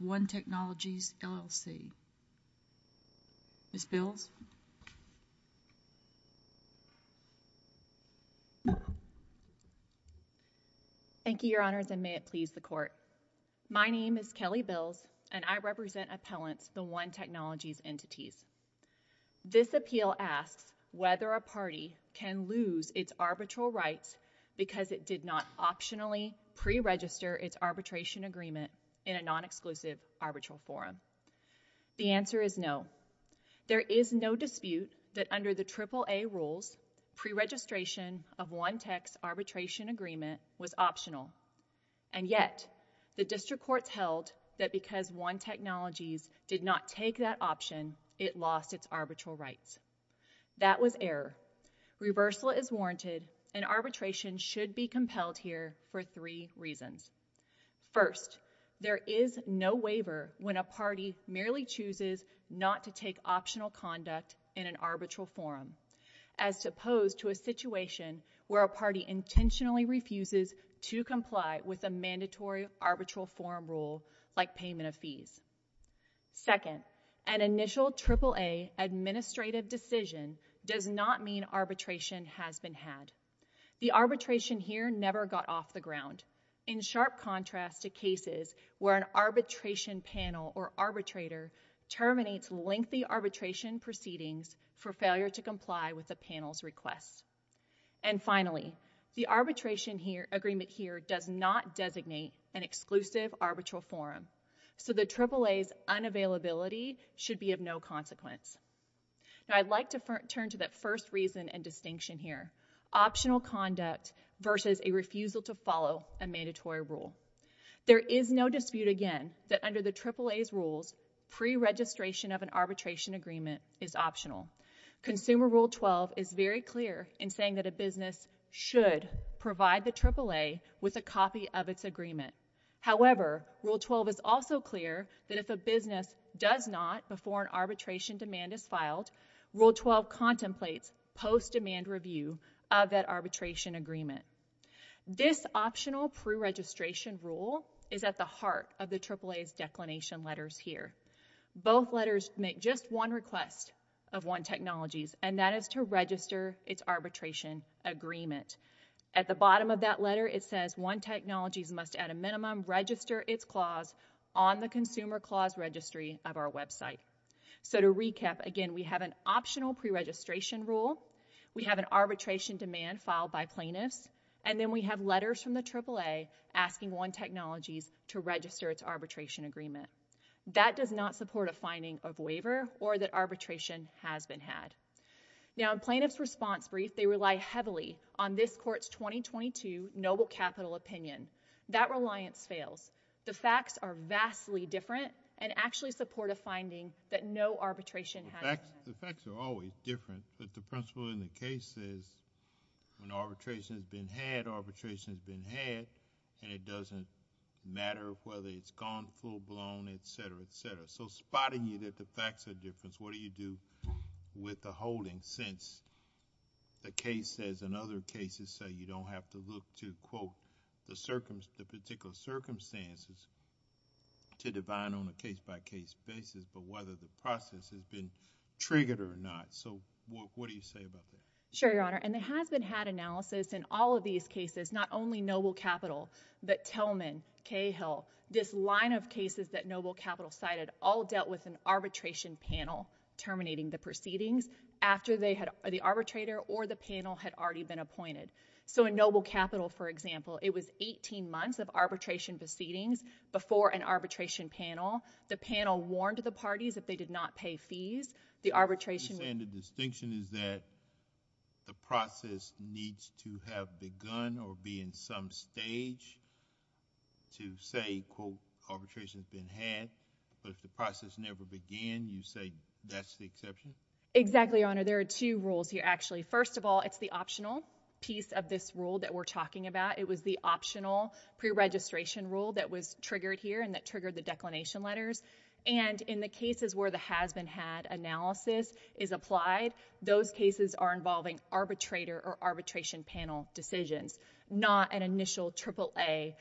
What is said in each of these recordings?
One Technologies LLC. Ms. Bills. Thank you, your honors, and may it please the court. My name is Kelly Bills, and I represent appellants, the One Technologies entities. This appeal asks whether a party can lose its arbitral rights because it did not optionally preregister its arbitration agreement in a non-exclusive arbitral forum. The answer is no. There is no dispute that under the AAA rules, preregistration of One Tech's arbitration agreement was optional. And yet, the district courts held that because One Technologies did not take that option, it lost its arbitral rights. That was error. Reversal is warranted, and arbitration should be compelled here for three reasons. First, there is no waiver when a party merely chooses not to take optional conduct in an arbitral forum, as opposed to a situation where a party intentionally refuses to comply with a mandatory arbitral forum rule, like payment of fees. Second, an initial AAA administrative decision does not mean arbitration has been had. The arbitration here never got off the ground, in sharp contrast to cases where an arbitration panel or arbitrator terminates lengthy arbitration proceedings for failure to comply with the panel's request. And finally, the arbitration agreement here does not designate an exclusive arbitral forum, so the AAA's unavailability should be of no consequence. Now I'd like to turn to that first reason and a mandatory rule. There is no dispute, again, that under the AAA's rules, pre-registration of an arbitration agreement is optional. Consumer Rule 12 is very clear in saying that a business should provide the AAA with a copy of its agreement. However, Rule 12 is also clear that if a business does not, before an arbitration demand is filed, Rule 12 contemplates post-demand review of that arbitration agreement. This optional pre-registration rule is at the heart of the AAA's declination letters here. Both letters make just one request of One Technologies, and that is to register its arbitration agreement. At the bottom of that letter, it says One Technologies must at a minimum register its clause on the Consumer Clause Registry of our website. So to arbitration demand filed by plaintiffs, and then we have letters from the AAA asking One Technologies to register its arbitration agreement. That does not support a finding of waiver or that arbitration has been had. Now in plaintiff's response brief, they rely heavily on this court's 2022 noble capital opinion. That reliance fails. The facts are vastly different and actually support finding that no arbitration has been had. The facts are always different, but the principle in the case says when arbitration has been had, arbitration has been had, and it doesn't matter whether it's gone full-blown, etc., etc. So spotting you that the facts are different, what do you do with the holding since the case says, and other cases say, you don't have to look to, quote, the particular circumstances to divine on a case-by-case basis, but whether the process has been triggered or not. So what do you say about that? Sure, Your Honor, and there has been had analysis in all of these cases, not only noble capital, but Tillman, Cahill, this line of cases that noble capital cited all dealt with an arbitration panel terminating the proceedings after the arbitrator or the panel had already been appointed. So in noble capital, for example, it was 18 months of arbitration proceedings before an arbitration panel. The panel warned the parties if they did not pay fees, the arbitration— You're saying the distinction is that the process needs to have begun or be in some stage to say, quote, arbitration has been had, but if the process never began, you say that's the exception? Exactly, Your Honor. There are two rules here, actually. First of all, it's the optional piece of this rule that we're talking about. It was the optional preregistration rule that was triggered here and that triggered the declination letters, and in the cases where the has-been-had analysis is applied, those cases are involving arbitrator or arbitration panel decisions, not an initial AAA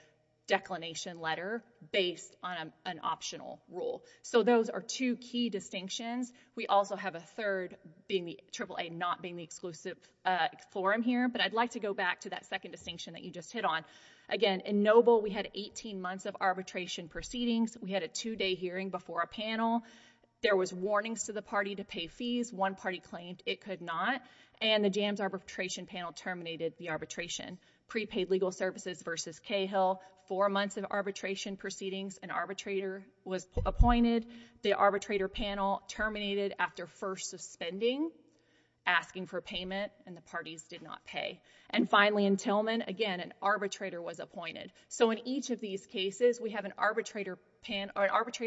declination letter based on an optional rule. So those are two key distinctions. We also have a third being the you just hit on. Again, in noble, we had 18 months of arbitration proceedings. We had a two-day hearing before a panel. There was warnings to the party to pay fees. One party claimed it could not, and the jams arbitration panel terminated the arbitration. Prepaid legal services versus Cahill, four months of arbitration proceedings. An arbitrator was appointed. The arbitrator panel terminated after first suspending, asking for payment, and the parties did not pay. And finally, in Tillman, again, an arbitrator was appointed. So in each of these cases, we have an arbitrator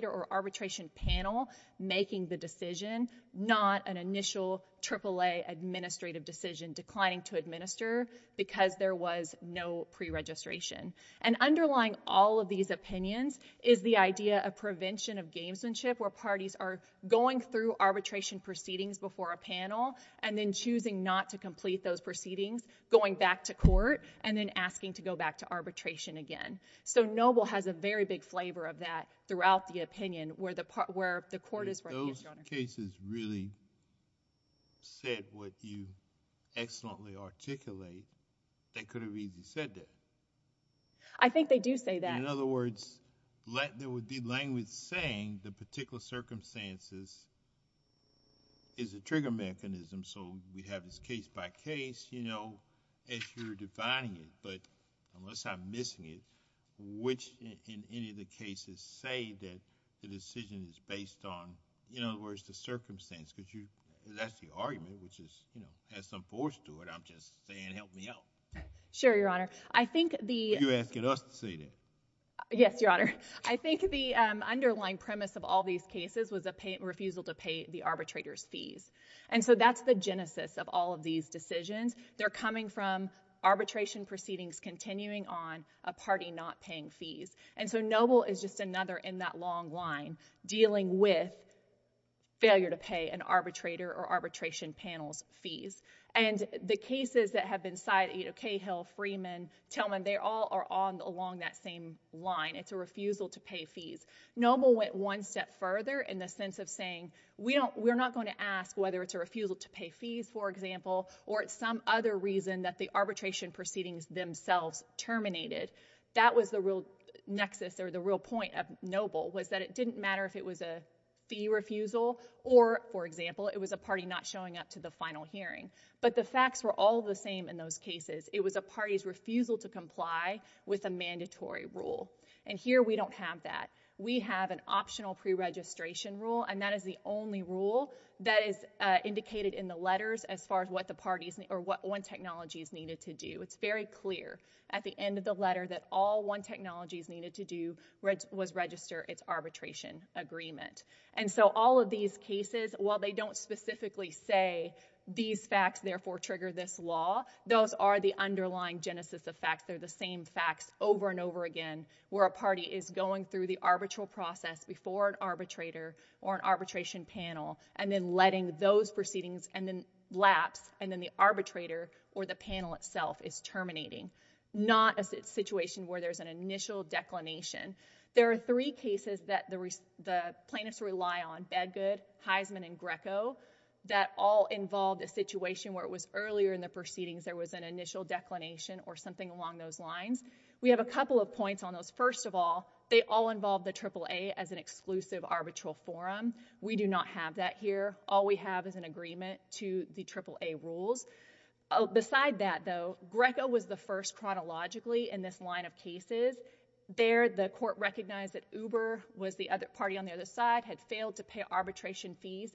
or arbitration panel making the decision, not an initial AAA administrative decision declining to administer because there was no preregistration. And underlying all of these opinions is the idea of prevention of gamesmanship, where parties are going through arbitration proceedings before a panel and then choosing not to complete those going back to court and then asking to go back to arbitration again. So noble has a very big flavor of that throughout the opinion, where the court is... If those cases really said what you excellently articulate, they could have easily said that. I think they do say that. In other words, there would be language saying the particular circumstances is a trigger mechanism, so we have this case by case as you're defining it. But unless I'm missing it, which in any of the cases say that the decision is based on, in other words, the circumstance? Because that's the argument, which has some force to it. I'm just saying, help me out. Sure, Your Honor. I think the... You're asking us to say that. Yes, Your Honor. I think the underlying premise of all these cases was a refusal to pay the arbitrator's fees. And so that's the genesis of all of these decisions. They're coming from arbitration proceedings continuing on a party not paying fees. And so noble is just another in that long line dealing with failure to pay an arbitrator or arbitration panel's fees. And the cases that have been cited, Cahill, Freeman, Tillman, they all are on along that same line. It's a refusal to pay fees. Noble went one step further in the sense of saying, we're not going to ask whether it's a refusal to pay fees, for example, or it's some other reason that the arbitration proceedings themselves terminated. That was the real nexus or the real point of noble was that it didn't matter if it was a fee refusal or, for example, it was a party not showing up to the final hearing. But the facts were all the same in those cases. It was a party's refusal to comply with a mandatory rule. And here we don't have that. We have an optional pre-registration rule, and that is the only rule that is indicated in the letters as far as what the parties or what One Technologies needed to do. It's very clear at the end of the letter that all One Technologies needed to do was register its arbitration agreement. And so all of these cases, while they don't specifically say these facts therefore trigger this law, those are the underlying genesis of facts. They're the same facts over and over again where a party is going through the arbitral process before an arbitrator or an arbitration panel and then letting those proceedings lapse, and then the arbitrator or the panel itself is terminating. Not a situation where there's an initial declination. There are three cases that the plaintiffs rely on, Bedgood, Heisman, and Greco, that all involved a situation where it was earlier in the proceedings there was an initial declination or something along those lines. We have a couple of points on those. First of all, they all involve the AAA as an exclusive arbitral forum. We do not have that here. All we have is an agreement to the AAA rules. Beside that, though, Greco was the first chronologically in this line of cases. There the court recognized that Uber was the other party on the case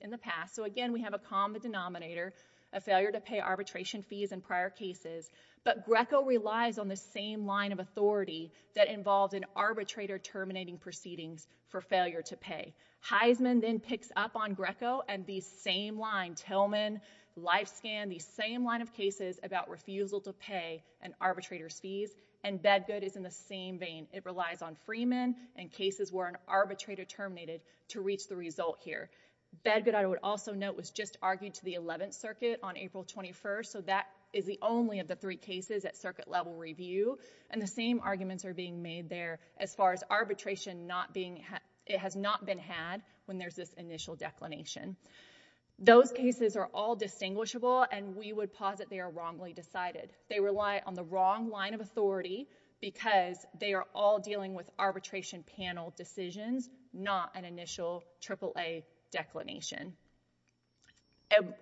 in the past. Again, we have a common denominator, a failure to pay arbitration fees in prior cases, but Greco relies on the same line of authority that involved an arbitrator terminating proceedings for failure to pay. Heisman then picks up on Greco and the same line, Tillman, Lifescan, the same line of cases about refusal to pay an arbitrator's fees, and Bedgood is in the same vein. It relies on Freeman and cases where an arbitrator terminated to reach the result here. Bedgood, I would also note, was just argued to the Eleventh Circuit on April 21st, so that is the only of the three cases at circuit level review, and the same arguments are being made there as far as arbitration not being, it has not been had when there's this initial declination. Those cases are all distinguishable, and we would posit they are wrongly decided. They rely on the wrong line of authority because they are all dealing with arbitration panel decisions, not an initial AAA declination.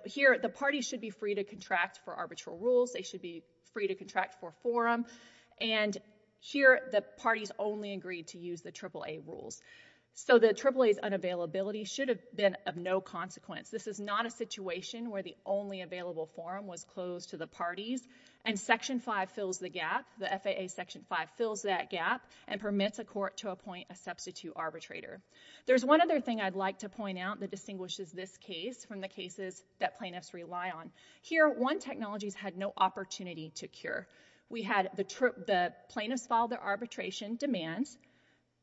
Here, the parties should be free to contract for arbitral rules. They should be free to contract for forum, and here the parties only agreed to use the AAA rules, so the AAA's unavailability should have been of no consequence. This is not a situation where the only available forum was closed to the parties, and Section 5 fills the gap. The FAA Section 5 fills that gap and permits a court to appoint a substitute arbitrator. There's one other thing I'd like to point out that distinguishes this case from the cases that plaintiffs rely on. Here, 1 Technologies had no opportunity to cure. We had the plaintiffs filed their arbitration demands,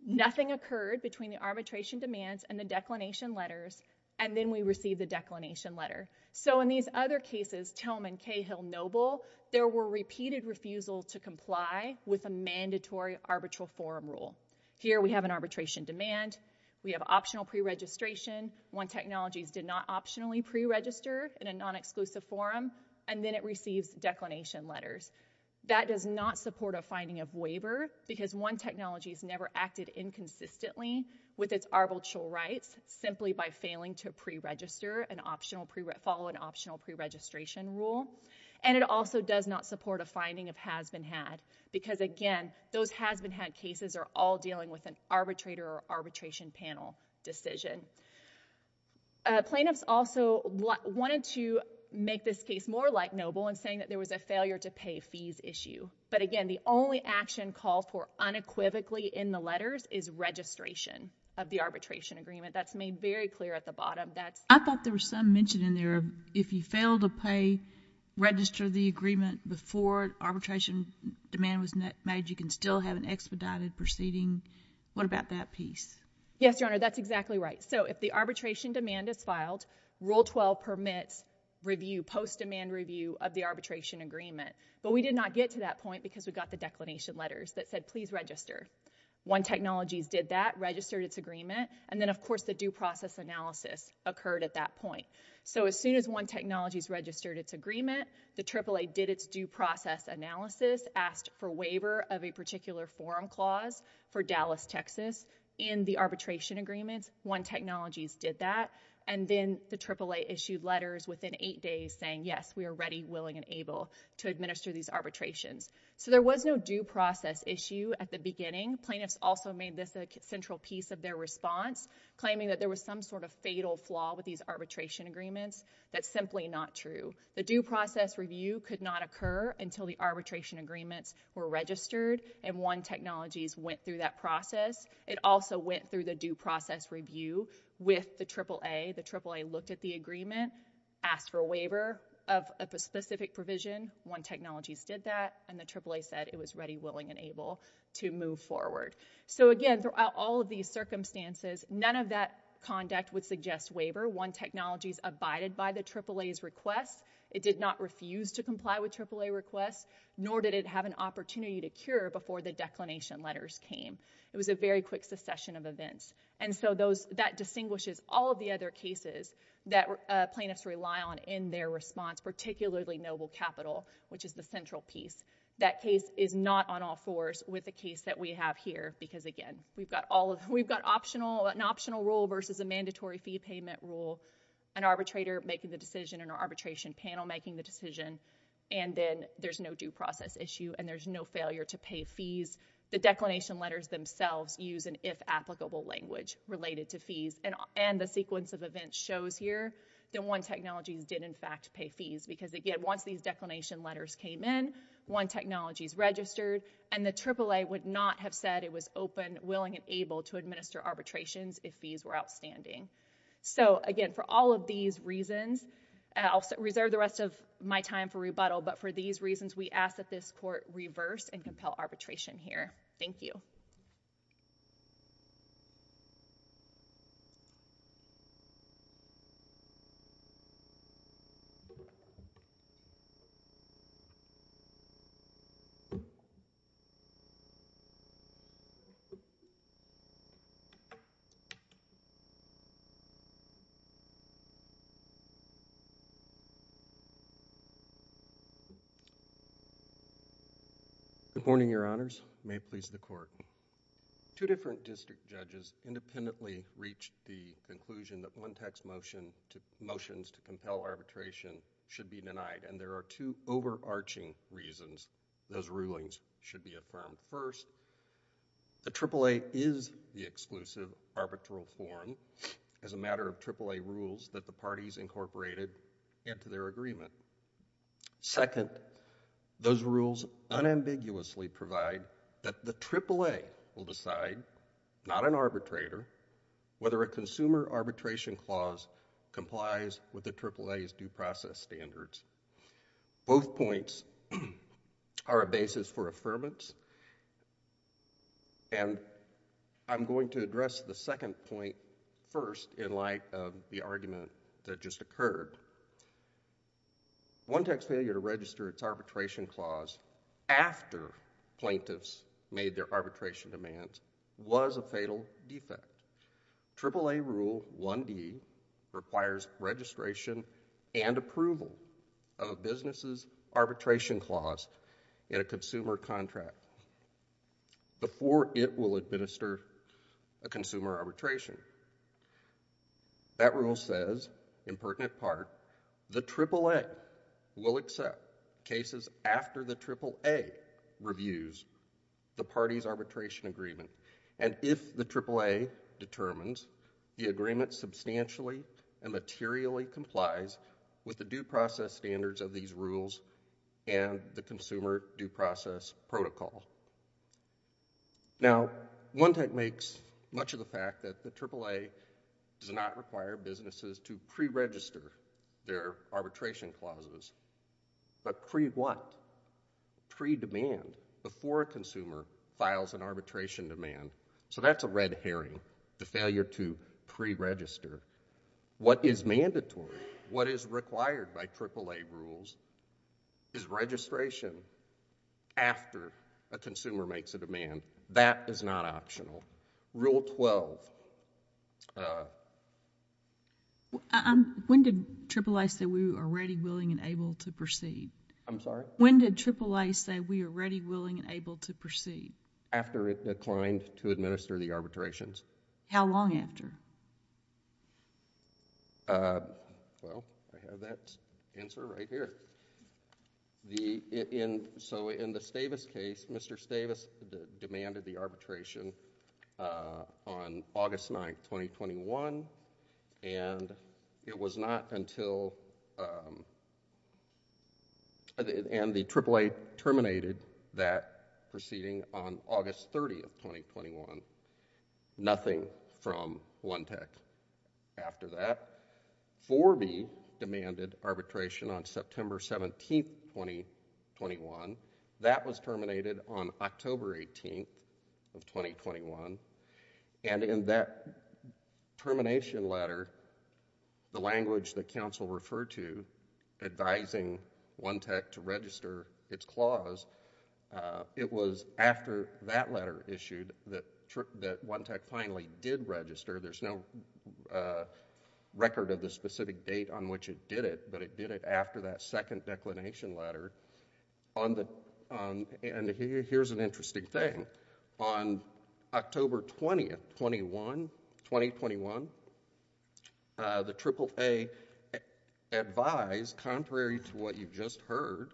nothing occurred between the arbitration demands and the declination letters, and then we received the declination letter. So in these other cases, Tillman, Kaye, Hill, Noble, there were repeated refusal to comply with a mandatory arbitral forum rule. Here, we have an arbitration demand. We have optional pre-registration. 1 Technologies did not optionally pre-register in a non-exclusive forum, and then it receives declination letters. That does not support a finding of waiver because 1 Technologies never acted inconsistently with its arbitral rights simply by failing to pre-register and follow an optional pre-registration rule, and it also does not support a finding of has-been-had because again, those has-been-had cases are all dealing with an arbitrator or arbitration panel decision. Plaintiffs also wanted to make this case more like Noble in saying that there was a failure to pay fees issue, but again, the only action called for unequivocally in the letters is registration of the arbitration agreement. That's made very clear at the bottom. I thought there was some mention in there of if you fail to pay, register the agreement before arbitration demand was made, you can still have an expedited proceeding. What about that piece? Yes, Your Honor, that's exactly right. So if the arbitration demand is filed, Rule 12 permits review, post-demand review of the arbitration agreement, but we did not get to that point because we got the declination letters that said, please register. 1 Technologies did that, registered its agreement, and then of course, the due process analysis occurred at that point. So as soon as 1 Technologies registered its agreement, the AAA did its due process analysis, asked for waiver of a particular forum clause for Dallas, Texas in the arbitration agreements, 1 Technologies did that, and then the AAA issued letters within eight days saying, yes, we are ready, willing, and able to administer these arbitrations. So there was no due process issue at the beginning. Plaintiffs also made this a that there was some sort of fatal flaw with these arbitration agreements. That's simply not true. The due process review could not occur until the arbitration agreements were registered, and 1 Technologies went through that process. It also went through the due process review with the AAA. The AAA looked at the agreement, asked for a waiver of a specific provision, 1 Technologies did that, and the AAA said it was ready, willing, and able to move forward. So again, throughout all of these circumstances, none of that conduct would suggest waiver. 1 Technologies abided by the AAA's request. It did not refuse to comply with AAA requests, nor did it have an opportunity to cure before the declination letters came. It was a very quick succession of events. And so that distinguishes all of the other cases that plaintiffs rely on in their response, particularly Noble Capital, which is the central piece. That case is not on all fours with the case that we have here, because again, we've got an optional rule versus a mandatory fee payment rule, an arbitrator making the decision, an arbitration panel making the decision, and then there's no due process issue, and there's no failure to pay fees. The declination letters themselves use an if applicable language related to fees, and the sequence of events shows here that 1 Technologies did in fact pay fees, because again, once these declination letters came in, 1 Technologies registered, and the AAA would not have said it was open, willing, and able to administer arbitrations if fees were outstanding. So again, for all of these reasons, I'll reserve the rest of my time for rebuttal, but for these reasons, we ask that this Court reverse and compel arbitration. Good morning, Your Honors. May it please the Court. Two different district judges independently reached the conclusion that one tax motion to motions to compel arbitration should be denied, and there are two overarching reasons those rulings should be affirmed. First, the AAA is the exclusive arbitral forum as a matter of AAA rules that the parties incorporated into their agreement. Second, those rules unambiguously provide that the AAA will decide, not an arbitrator, whether a consumer arbitration clause complies with the AAA's due process standards. Both points are a basis for affirmance, and I'm going to address the second point first in light of the argument that just occurred. One tax failure to register its arbitration clause after plaintiffs made their arbitration demands was a fatal defect. AAA Rule 1D requires registration and approval of a business's arbitration clause in a consumer contract before it will administer a consumer arbitration. That rule says, in pertinent part, the AAA will accept cases after the AAA reviews the party's arbitration agreement, and if the AAA determines the with the due process standards of these rules and the consumer due process protocol. Now, one tax makes much of the fact that the AAA does not require businesses to pre-register their arbitration clauses. But pre-what? Pre-demand, before a consumer files an arbitration demand. So that's a red herring, the failure to pre-register. What is mandatory, what is required by AAA rules is registration after a consumer makes a demand. That is not optional. Rule 12. When did AAA say we are ready, willing, and able to proceed? I'm sorry? When did AAA say we are ready, willing, and able to proceed? After it declined to administer the arbitrations. How long after? Well, I have that answer right here. So in the Stavis case, Mr. Stavis demanded the arbitration on August 9th, 2021, and it was not until, and the AAA terminated that proceeding on August 30th, 2021. Nothing from One Tech after that. 4B demanded arbitration on September 17th, 2021. That was terminated on October 18th of 2021. And in that termination letter, the language that counsel referred to advising One Tech to register its clause, it was after that letter issued that One Tech finally did register. There's no record of the specific date on which it did it, but it did it after that second declination letter. And here's an interesting thing. On October 20th, 2021, the AAA advised, contrary to what you've just heard,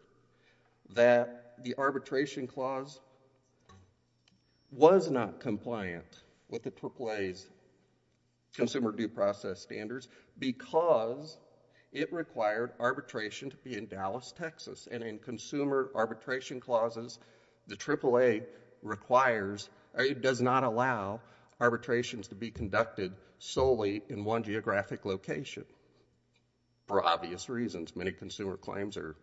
that the arbitration clause was not compliant with the AAA's consumer due process standards because it required arbitration to be in Dallas, Texas. And in consumer arbitration clauses, the AAA requires, or it does not allow, arbitrations to be conducted solely in one geographic location for obvious reasons. Many consumer claims are,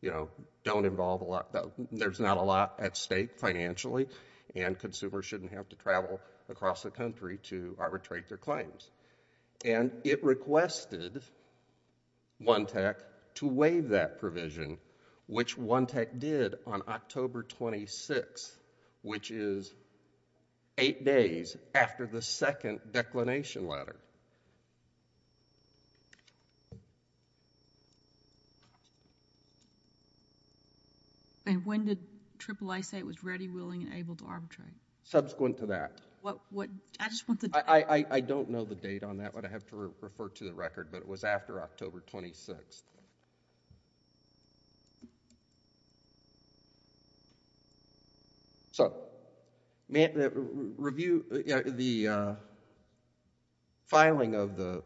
you know, don't involve a lot, there's not a lot at stake financially, and consumers shouldn't have to travel across the country to arbitrate their claims. And it requested One Tech to waive that provision, which One Tech did on October 26th, which is eight days after the second declination letter. And when did AAA say it was ready, willing, and able to arbitrate? Subsequent to that. What, I just want the date. I don't know the date on that, but I have to refer to the record, but it was after October 26th. So, the filing of the,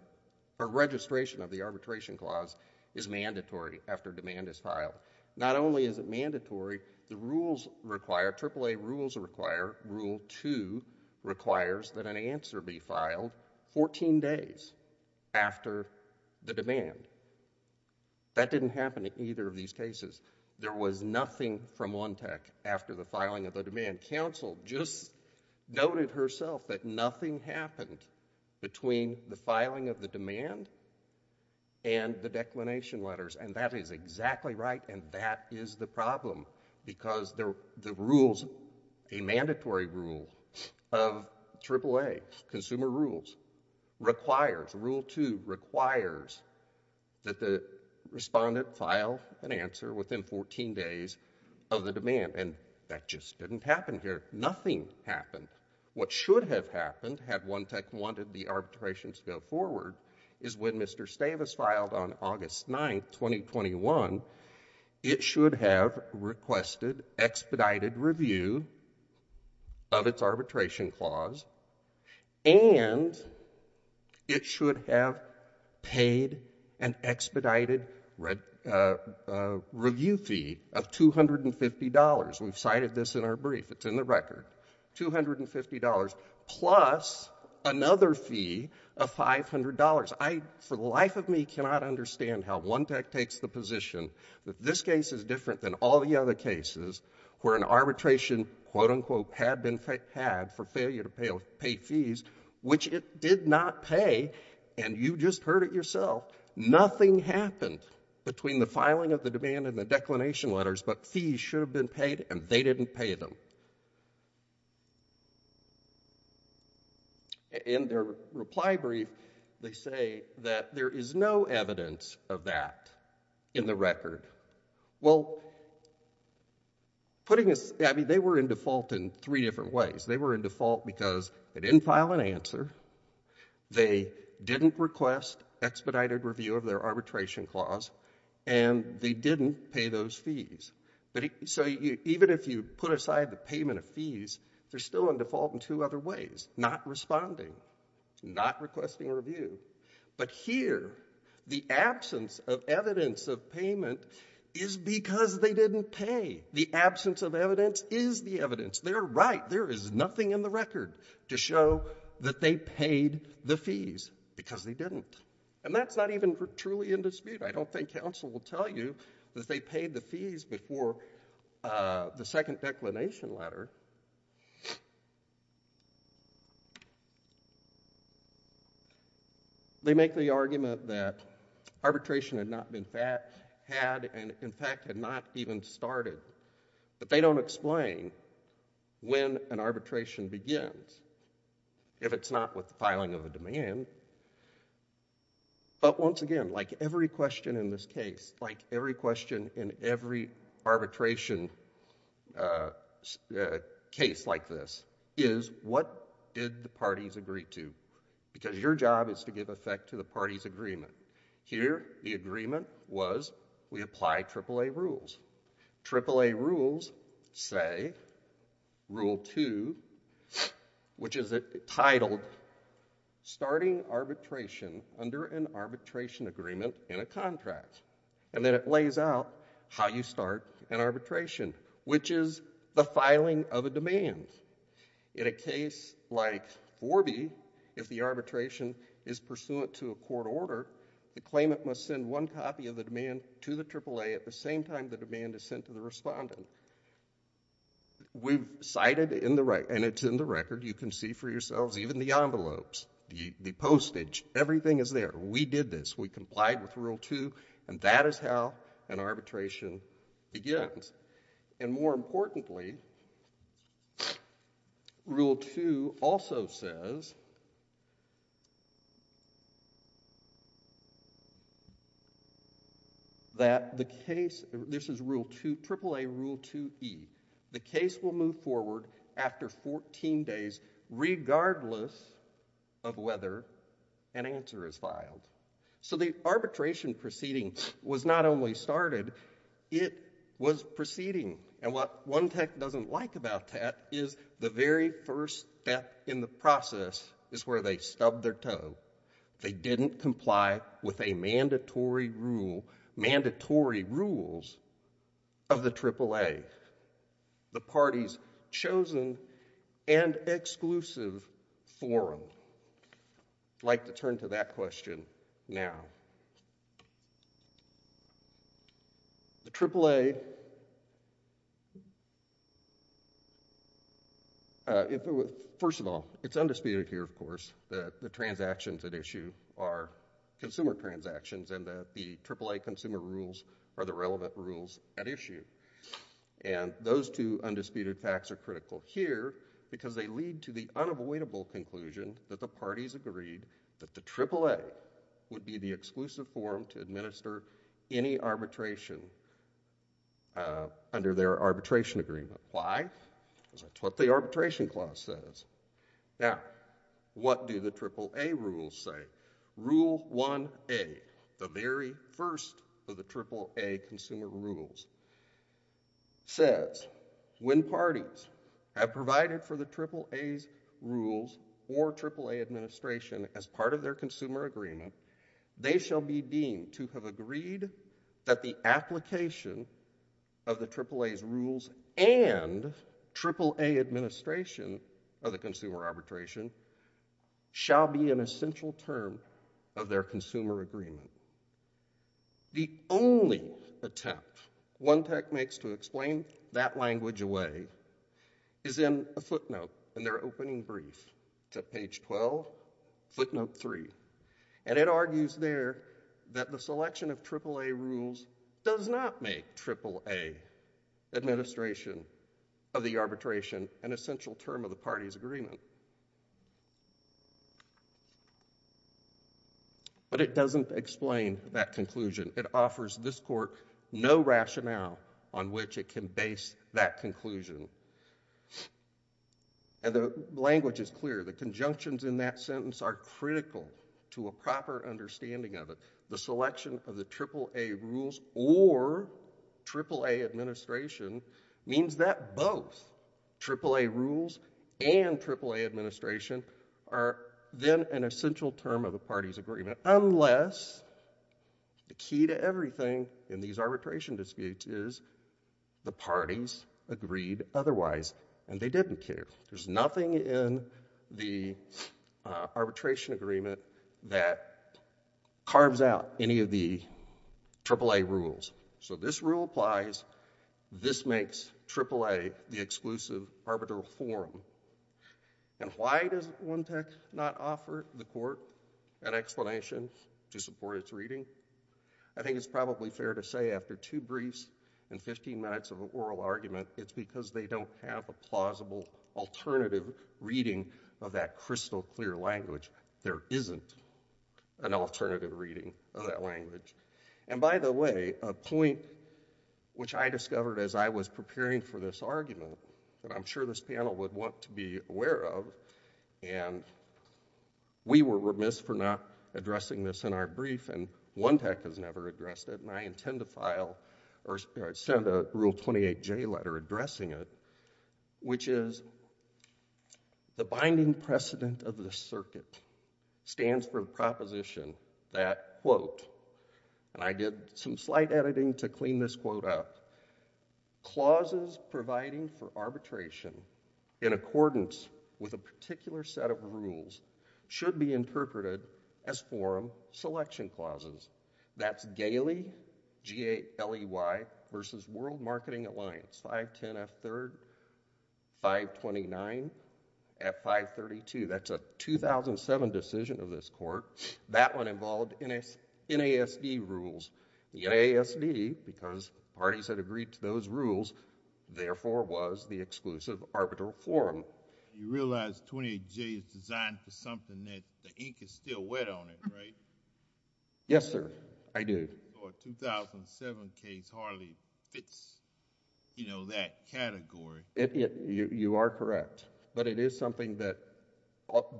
or registration of the arbitration clause is mandatory after demand is filed. Not only is it mandatory, the rules require, AAA rules require, Rule 2 requires that an answer be filed 14 days after the demand. That didn't happen in either of these cases. There was nothing from One Tech after the filing of the demand. Counsel just noted herself that nothing happened between the filing of the demand and the declination letters. And that is exactly right, and that is the problem, because the rules, a mandatory rule of AAA, consumer rules, requires, Rule 2 requires that the respondent file an answer within 14 days of the demand. And that just didn't happen here. Nothing happened. What should have happened had One Tech wanted the It should have requested expedited review of its arbitration clause, and it should have paid an expedited review fee of $250. We've cited this in our brief. It's in the record. $250 plus another fee of $500. I, for the life of me, cannot understand how One Tech takes the position that this case is different than all the other cases where an arbitration, quote, unquote, had been had for failure to pay fees, which it did not pay, and you just heard it yourself. Nothing happened between the filing of the demand and the declination letters, but fees should have been paid, and they didn't pay them. In their reply brief, they say that there is no evidence of that in the record. Well, putting this, I mean, they were in default in three different ways. They were in default because they didn't file an answer, they didn't request expedited review of their arbitration clause, and they didn't pay those fees. So even if you put aside the payment of fees, they're still in default in two other ways, not responding, not requesting review. But here, the absence of evidence of payment is because they didn't pay. The absence of evidence is the evidence. They're right. There is nothing in the record to show that they paid the fees because they didn't, and that's not even truly in dispute. I don't think counsel will tell you that they paid the fees before the second declination letter. They make the argument that arbitration had not been, had, and in fact, had not even started, but they don't explain when an arbitration begins, if it's not with the filing of a demand. But once again, like every question in this case, like every question in every arbitration case like this, is what did the parties agree to? Because your job is to give effect to the party's agreement. Here, the agreement was we apply AAA rules. AAA rules say rule two, which is titled starting arbitration under an arbitration agreement in a contract, and then it lays out how you start an arbitration, which is the filing of a demand. In a case like Forby, if the arbitration is pursuant to a court order, the claimant must send one copy of the demand to the AAA at the same time the demand is sent to the respondent. We've cited in the record, and it's in the record, you can see for yourselves, even the envelopes, the postage, everything is there. We did this. We complied with rule two, and that is how an arbitration begins. And more importantly, rule two also says that the case, this is rule two, AAA rule two E, the case will move forward after 14 days regardless of whether an answer is filed. So the arbitration proceeding was not only started, it was proceeding. And what one tech doesn't like about that is the very first step in the process is where they stubbed their toe. They didn't comply with a mandatory rule, mandatory rules of the AAA, the party's chosen and exclusive forum. I'd like to turn to that question now. The AAA, first of all, it's undisputed here, of course, that the transactions at issue are consumer transactions and that the AAA consumer rules are the relevant rules at issue. And those two undisputed facts are critical here because they lead to the unavoidable conclusion that the AAA will not be able to perform to administer any arbitration under their arbitration agreement. Why? Because that's what the arbitration clause says. Now, what do the AAA rules say? Rule one A, the very first of the AAA consumer rules, says when parties have provided for the AAA's rules or AAA administration as part of their consumer agreement, they shall be deemed to have agreed that the application of the AAA's rules and AAA administration of the consumer arbitration shall be an essential term of their consumer agreement. The only attempt one tech makes to explain that language away is in a footnote in their opening brief to page 12, footnote three. And it argues there that the selection of AAA rules does not make AAA administration of the arbitration an essential term of the party's agreement. But it doesn't explain that conclusion. It offers this court no rationale on which it can base that conclusion. And the language is clear. The conjunctions in that sentence are critical to a proper understanding of it. The selection of the AAA rules or AAA administration means that both AAA rules and AAA administration are then an essential term of the party's agreement, unless the key to everything in these arbitration disputes is the parties agreed otherwise, and they didn't care. There's nothing in the arbitration agreement that carves out any of the AAA rules. So this rule applies. This makes AAA the exclusive arbitral forum. And why does one tech not offer the court an explanation to support its reading? I think it's probably fair to say after two briefs and 15 minutes of an oral argument, it's because they don't have a plausible alternative reading of that crystal clear language. There isn't an alternative reading of that language. And by the way, a point which I discovered as I was preparing for this argument that I'm sure this panel would want to be aware of, and we were remiss for not addressing this in our brief, and one tech has never addressed it, and I intend to file or send a Rule 28J letter addressing it, which is the binding precedent of the circuit, stands for the proposition that, quote, and I did some slight editing to clean this quote up, clauses providing for arbitration in accordance with a particular set of rules should be interpreted as forum selection clauses. That's Galey versus World Marketing Alliance, 510F3rd, 529F532. That's a 2007 decision of this court. That one involved NASD rules. NASD, because parties had agreed to those rules, therefore was the exclusive arbitral forum. You realize 28J is designed for something that the ink is still wet on it, right? Yes, sir. I do. A 2008 or 2007 case hardly fits, you know, that category. You are correct, but it is something that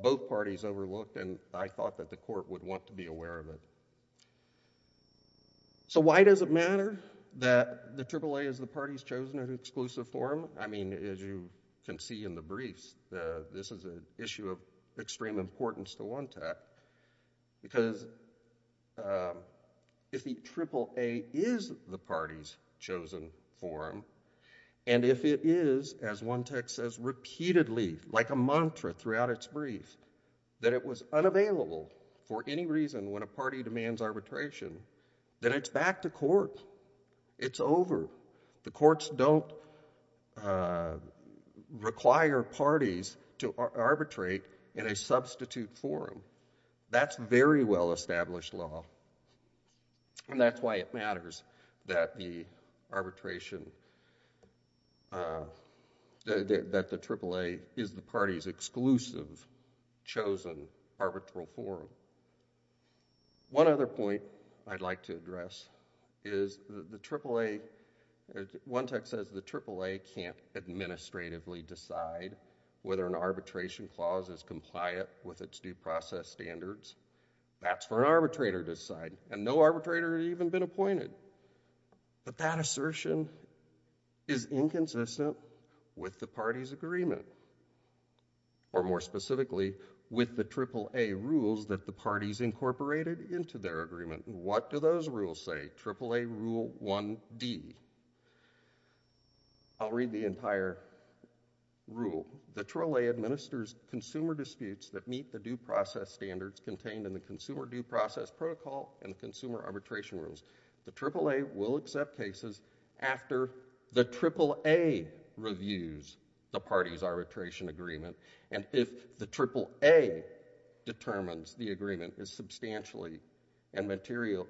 both parties overlooked and I thought that the court would want to be aware of it. So why does it matter that the AAA is the party's chosen exclusive forum? I mean, as you can see in the briefs, this is an issue of extreme importance to one tech, because if the AAA is the party's chosen forum and if it is, as one tech says repeatedly, like a mantra throughout its brief, that it was unavailable for any reason when a party demands arbitration, then it's back to court. It's over. The courts don't require parties to arbitrate in a substitute forum. That's very well-established law and that's why it matters that the arbitration, that the AAA is the party's exclusive chosen arbitral forum. One other point I'd like to address is the AAA, one tech says the AAA can't administratively decide whether an arbitration clause is compliant with its due process standards. That's for an arbitrator to decide and no arbitrator has even been appointed, but that assertion is inconsistent with the party's agreement, or more specifically, with the AAA rules that the parties incorporated into their agreement. What do those rules say? AAA Rule 1D. I'll read the entire rule. The AAA administers consumer disputes that meet the due process standards contained in the Consumer Due Process Protocol and the Consumer Arbitration Rules. The AAA will accept cases after the AAA reviews the party's arbitration agreement, and if the AAA determines the agreement is substantially and materially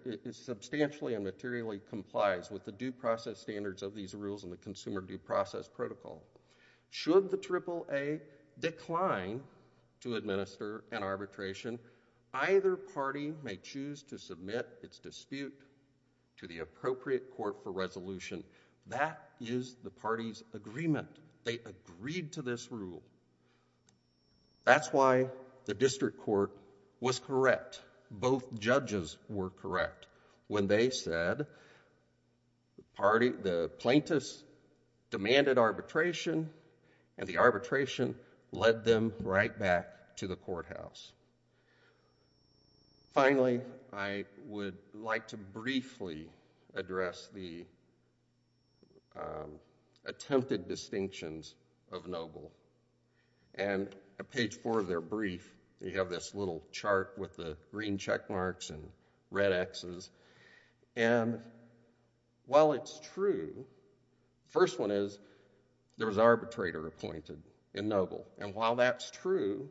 complies with the due process standards of these rules in the Consumer Due Process Protocol. Should the AAA decline to administer an arbitration, either party may choose to submit its dispute to the appropriate court for resolution. That is the party's agreement. They agreed to this rule. That's why the district court was correct. Both judges were correct when they said the plaintiffs demanded arbitration and the arbitration led them right back to the courthouse. Finally, I would like to briefly address the attempted distinctions of Noble. On page four of their brief, you have this little chart with the green check marks and red Xs. While it's true, the first one is there was an arbitrator appointed in Noble. While that's true,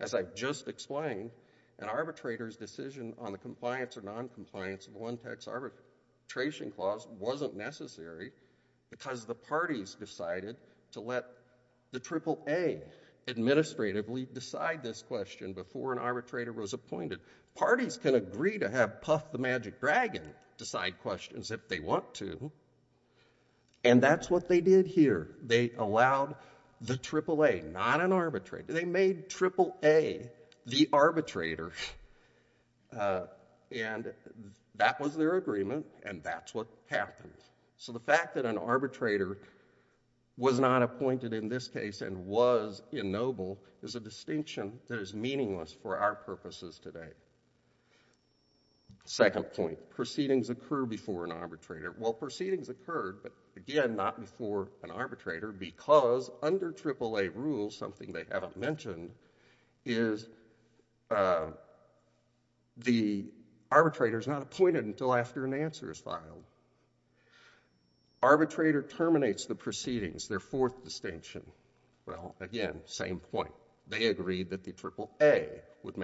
as I've just explained, an arbitrator's decision on the compliance or non-compliance of the One because the parties decided to let the AAA administratively decide this question before an arbitrator was appointed. Parties can agree to have Puff the Magic Dragon decide questions if they want to, and that's what they did here. They allowed the AAA, not an arbitrator. They made AAA the arbitrator, and that was their agreement, and that's what happened. So the fact that an arbitrator was not appointed in this case and was in Noble is a distinction that is meaningless for our purposes today. Second point, proceedings occur before an arbitrator. Well, proceedings occurred, but again, not before an arbitrator because under AAA rules, something they haven't proceedings, their fourth distinction. Well, again, same point. They agreed that the AAA would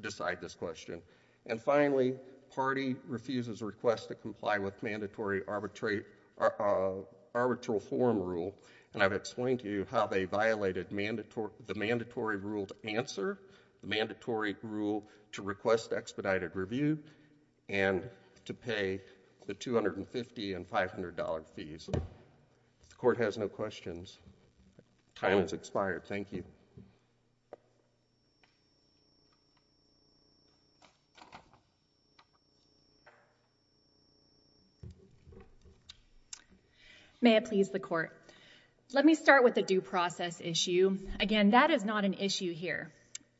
decide this question. And finally, party refuses a request to comply with mandatory arbitral form rule, and I've explained to you how they violated the mandatory rule to answer, the mandatory rule to request expedited review, and to pay the $250 and $500 fees. If the Court has no questions, time has expired. Thank you. May it please the Court. Let me start with the due process issue. Again, that is not an issue here,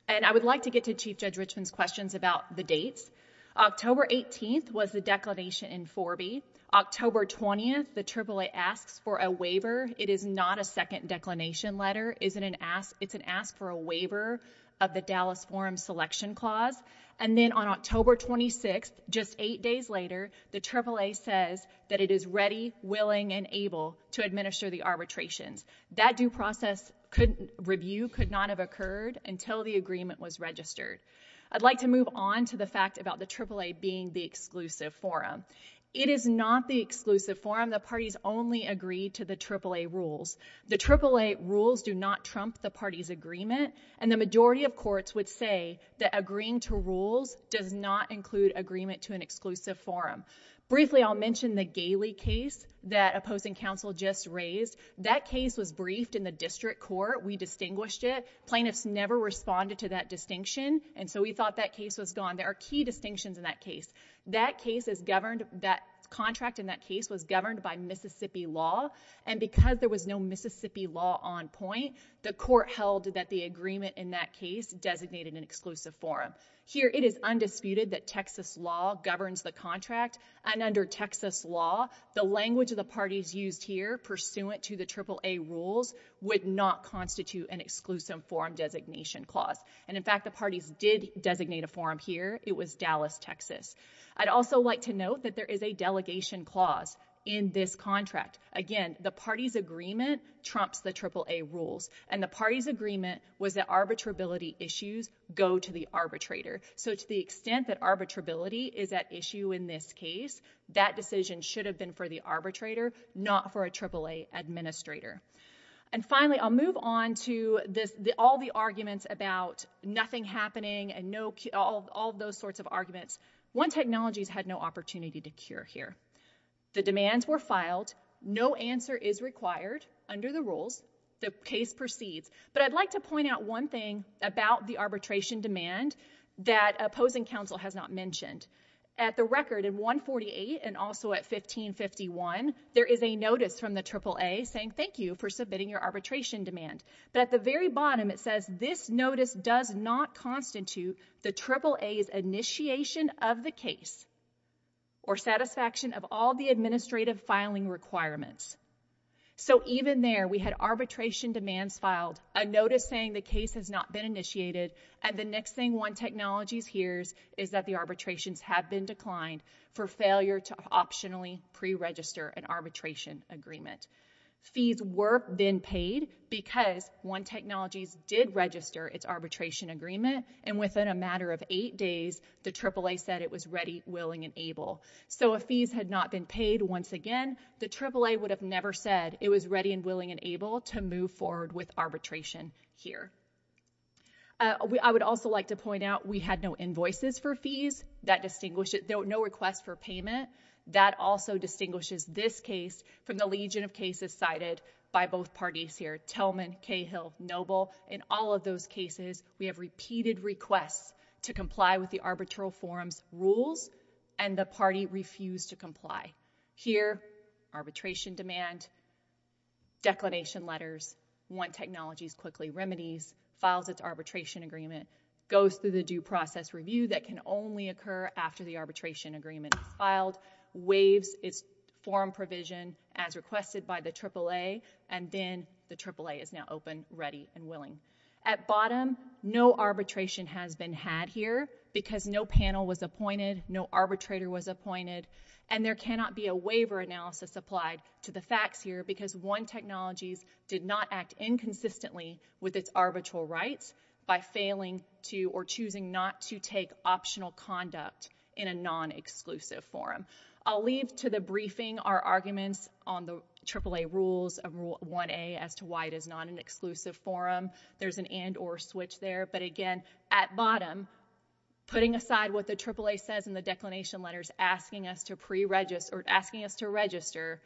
and I would like to get to Chief Judge Richmond's questions about the dates. October 18th was the declination in Forbee. October 20th, the AAA asks for a waiver. It is not a second declination letter. It's an ask for a waiver of the Dallas Forum Selection Clause. And then on October 26th, just eight days later, the AAA says that it is ready, willing, and able to administer the arbitrations. That due process review could not have occurred until the agreement was registered. I'd like to move on to the fact about the AAA being the exclusive forum. It is not the exclusive forum. The parties only agree to the AAA rules. The AAA rules do not trump the party's agreement, and the majority of courts would say that agreeing to rules does not include agreement to an exclusive forum. Briefly, I'll mention the Galey case that opposing counsel just raised. That case was briefed in the district court. We distinguished it. Plaintiffs never responded to that distinction, and so we thought that case was gone. There are key distinctions in that case. That contract in that case was governed by Mississippi law, and because there was no Mississippi law on point, the court held that the agreement in that case designated an exclusive forum. Here, it is undisputed that Texas law governs the contract, and under Texas law, the language of the parties used here pursuant to the AAA rules would not constitute an exclusive forum designation clause. In fact, the parties did designate a forum here. It was Dallas, Texas. I'd also like to note that there is a delegation clause in this contract. Again, the party's agreement trumps the AAA rules, and the party's agreement was that arbitrability issues go to the arbitrator. To the extent that arbitrability is at issue in this case, that decision should have been for the arbitrator, not for a AAA administrator. Finally, I'll move on to all the arguments about nothing happening and all those sorts of arguments. One technology has had no opportunity to cure here. The demands were filed. No answer is required under the rules. The case proceeds, but I'd like to point out one thing about the arbitration demand that opposing counsel has not mentioned. At the record in 148 and also at 1551, there is a notice from the AAA saying thank you for submitting your arbitration demand. But at the very bottom, it says this notice does not constitute the AAA's initiation of the case or satisfaction of all the administrative filing requirements. So even there, we had arbitration demands filed, a notice saying the case has not been initiated, and the next thing one technology hears is that the arbitrations have been declined for failure to optionally pre-register an arbitration agreement. Fees were then paid because one technology did register its arbitration agreement, and within a matter of eight days, the AAA said it was ready, willing, and able. So if fees had not been paid once again, the AAA would have never said it was ready and willing and able to move forward with arbitration here. I would also like to point out we had no invoices for fees. There were no requests for payment. That also distinguishes this case from the legion of cases cited by both parties here, Tillman, Cahill, Noble. In all of those cases, we have repeated requests to comply with the arbitral forum's rules, and the party refused to comply. Here, arbitration demand, declination letters, one technology quickly remedies, files its arbitration agreement, goes through the due process review that can only occur after the arbitration agreement is filed, waives its forum provision as requested by the AAA, and then the AAA is now open, ready, and willing. At bottom, no arbitration has been had here because no panel was appointed, no arbitrator was appointed, and there cannot be a waiver analysis applied to the facts here because one technologies did not act inconsistently with its arbitral rights by failing to or choosing not to take optional conduct in a non-exclusive forum. I'll leave to the briefing our arguments on the AAA rules of rule 1a as to why it is not an exclusive forum. There's an and or switch there, but again, at bottom, putting aside what the AAA says in the declination letters, asking us to pre-register, or asking us to register,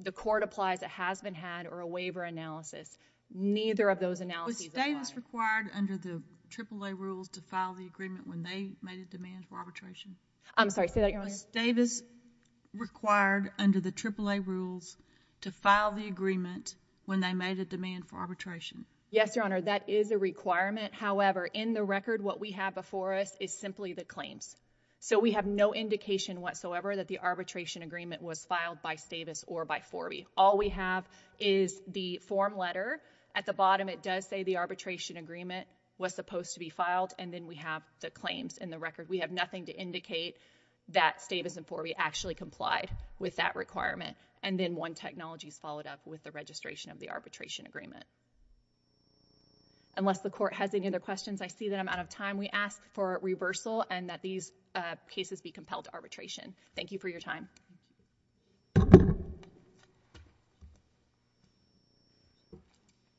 the court applies it has been had or a waiver analysis. Neither of those analyses apply. Was Davis required under the AAA rules to file the agreement when they made a demand for arbitration? I'm sorry, say that again. Was Davis required under the AAA rules to file the agreement when they made a demand for arbitration? Yes, that is a requirement. However, in the record, what we have before us is simply the claims. So we have no indication whatsoever that the arbitration agreement was filed by Stavis or by Forby. All we have is the form letter. At the bottom, it does say the arbitration agreement was supposed to be filed, and then we have the claims in the record. We have nothing to indicate that Stavis and Forby actually complied with that requirement, and then one technology is that the court has any other questions. I see that I'm out of time. We ask for reversal and that these cases be compelled to arbitration. Thank you for your time.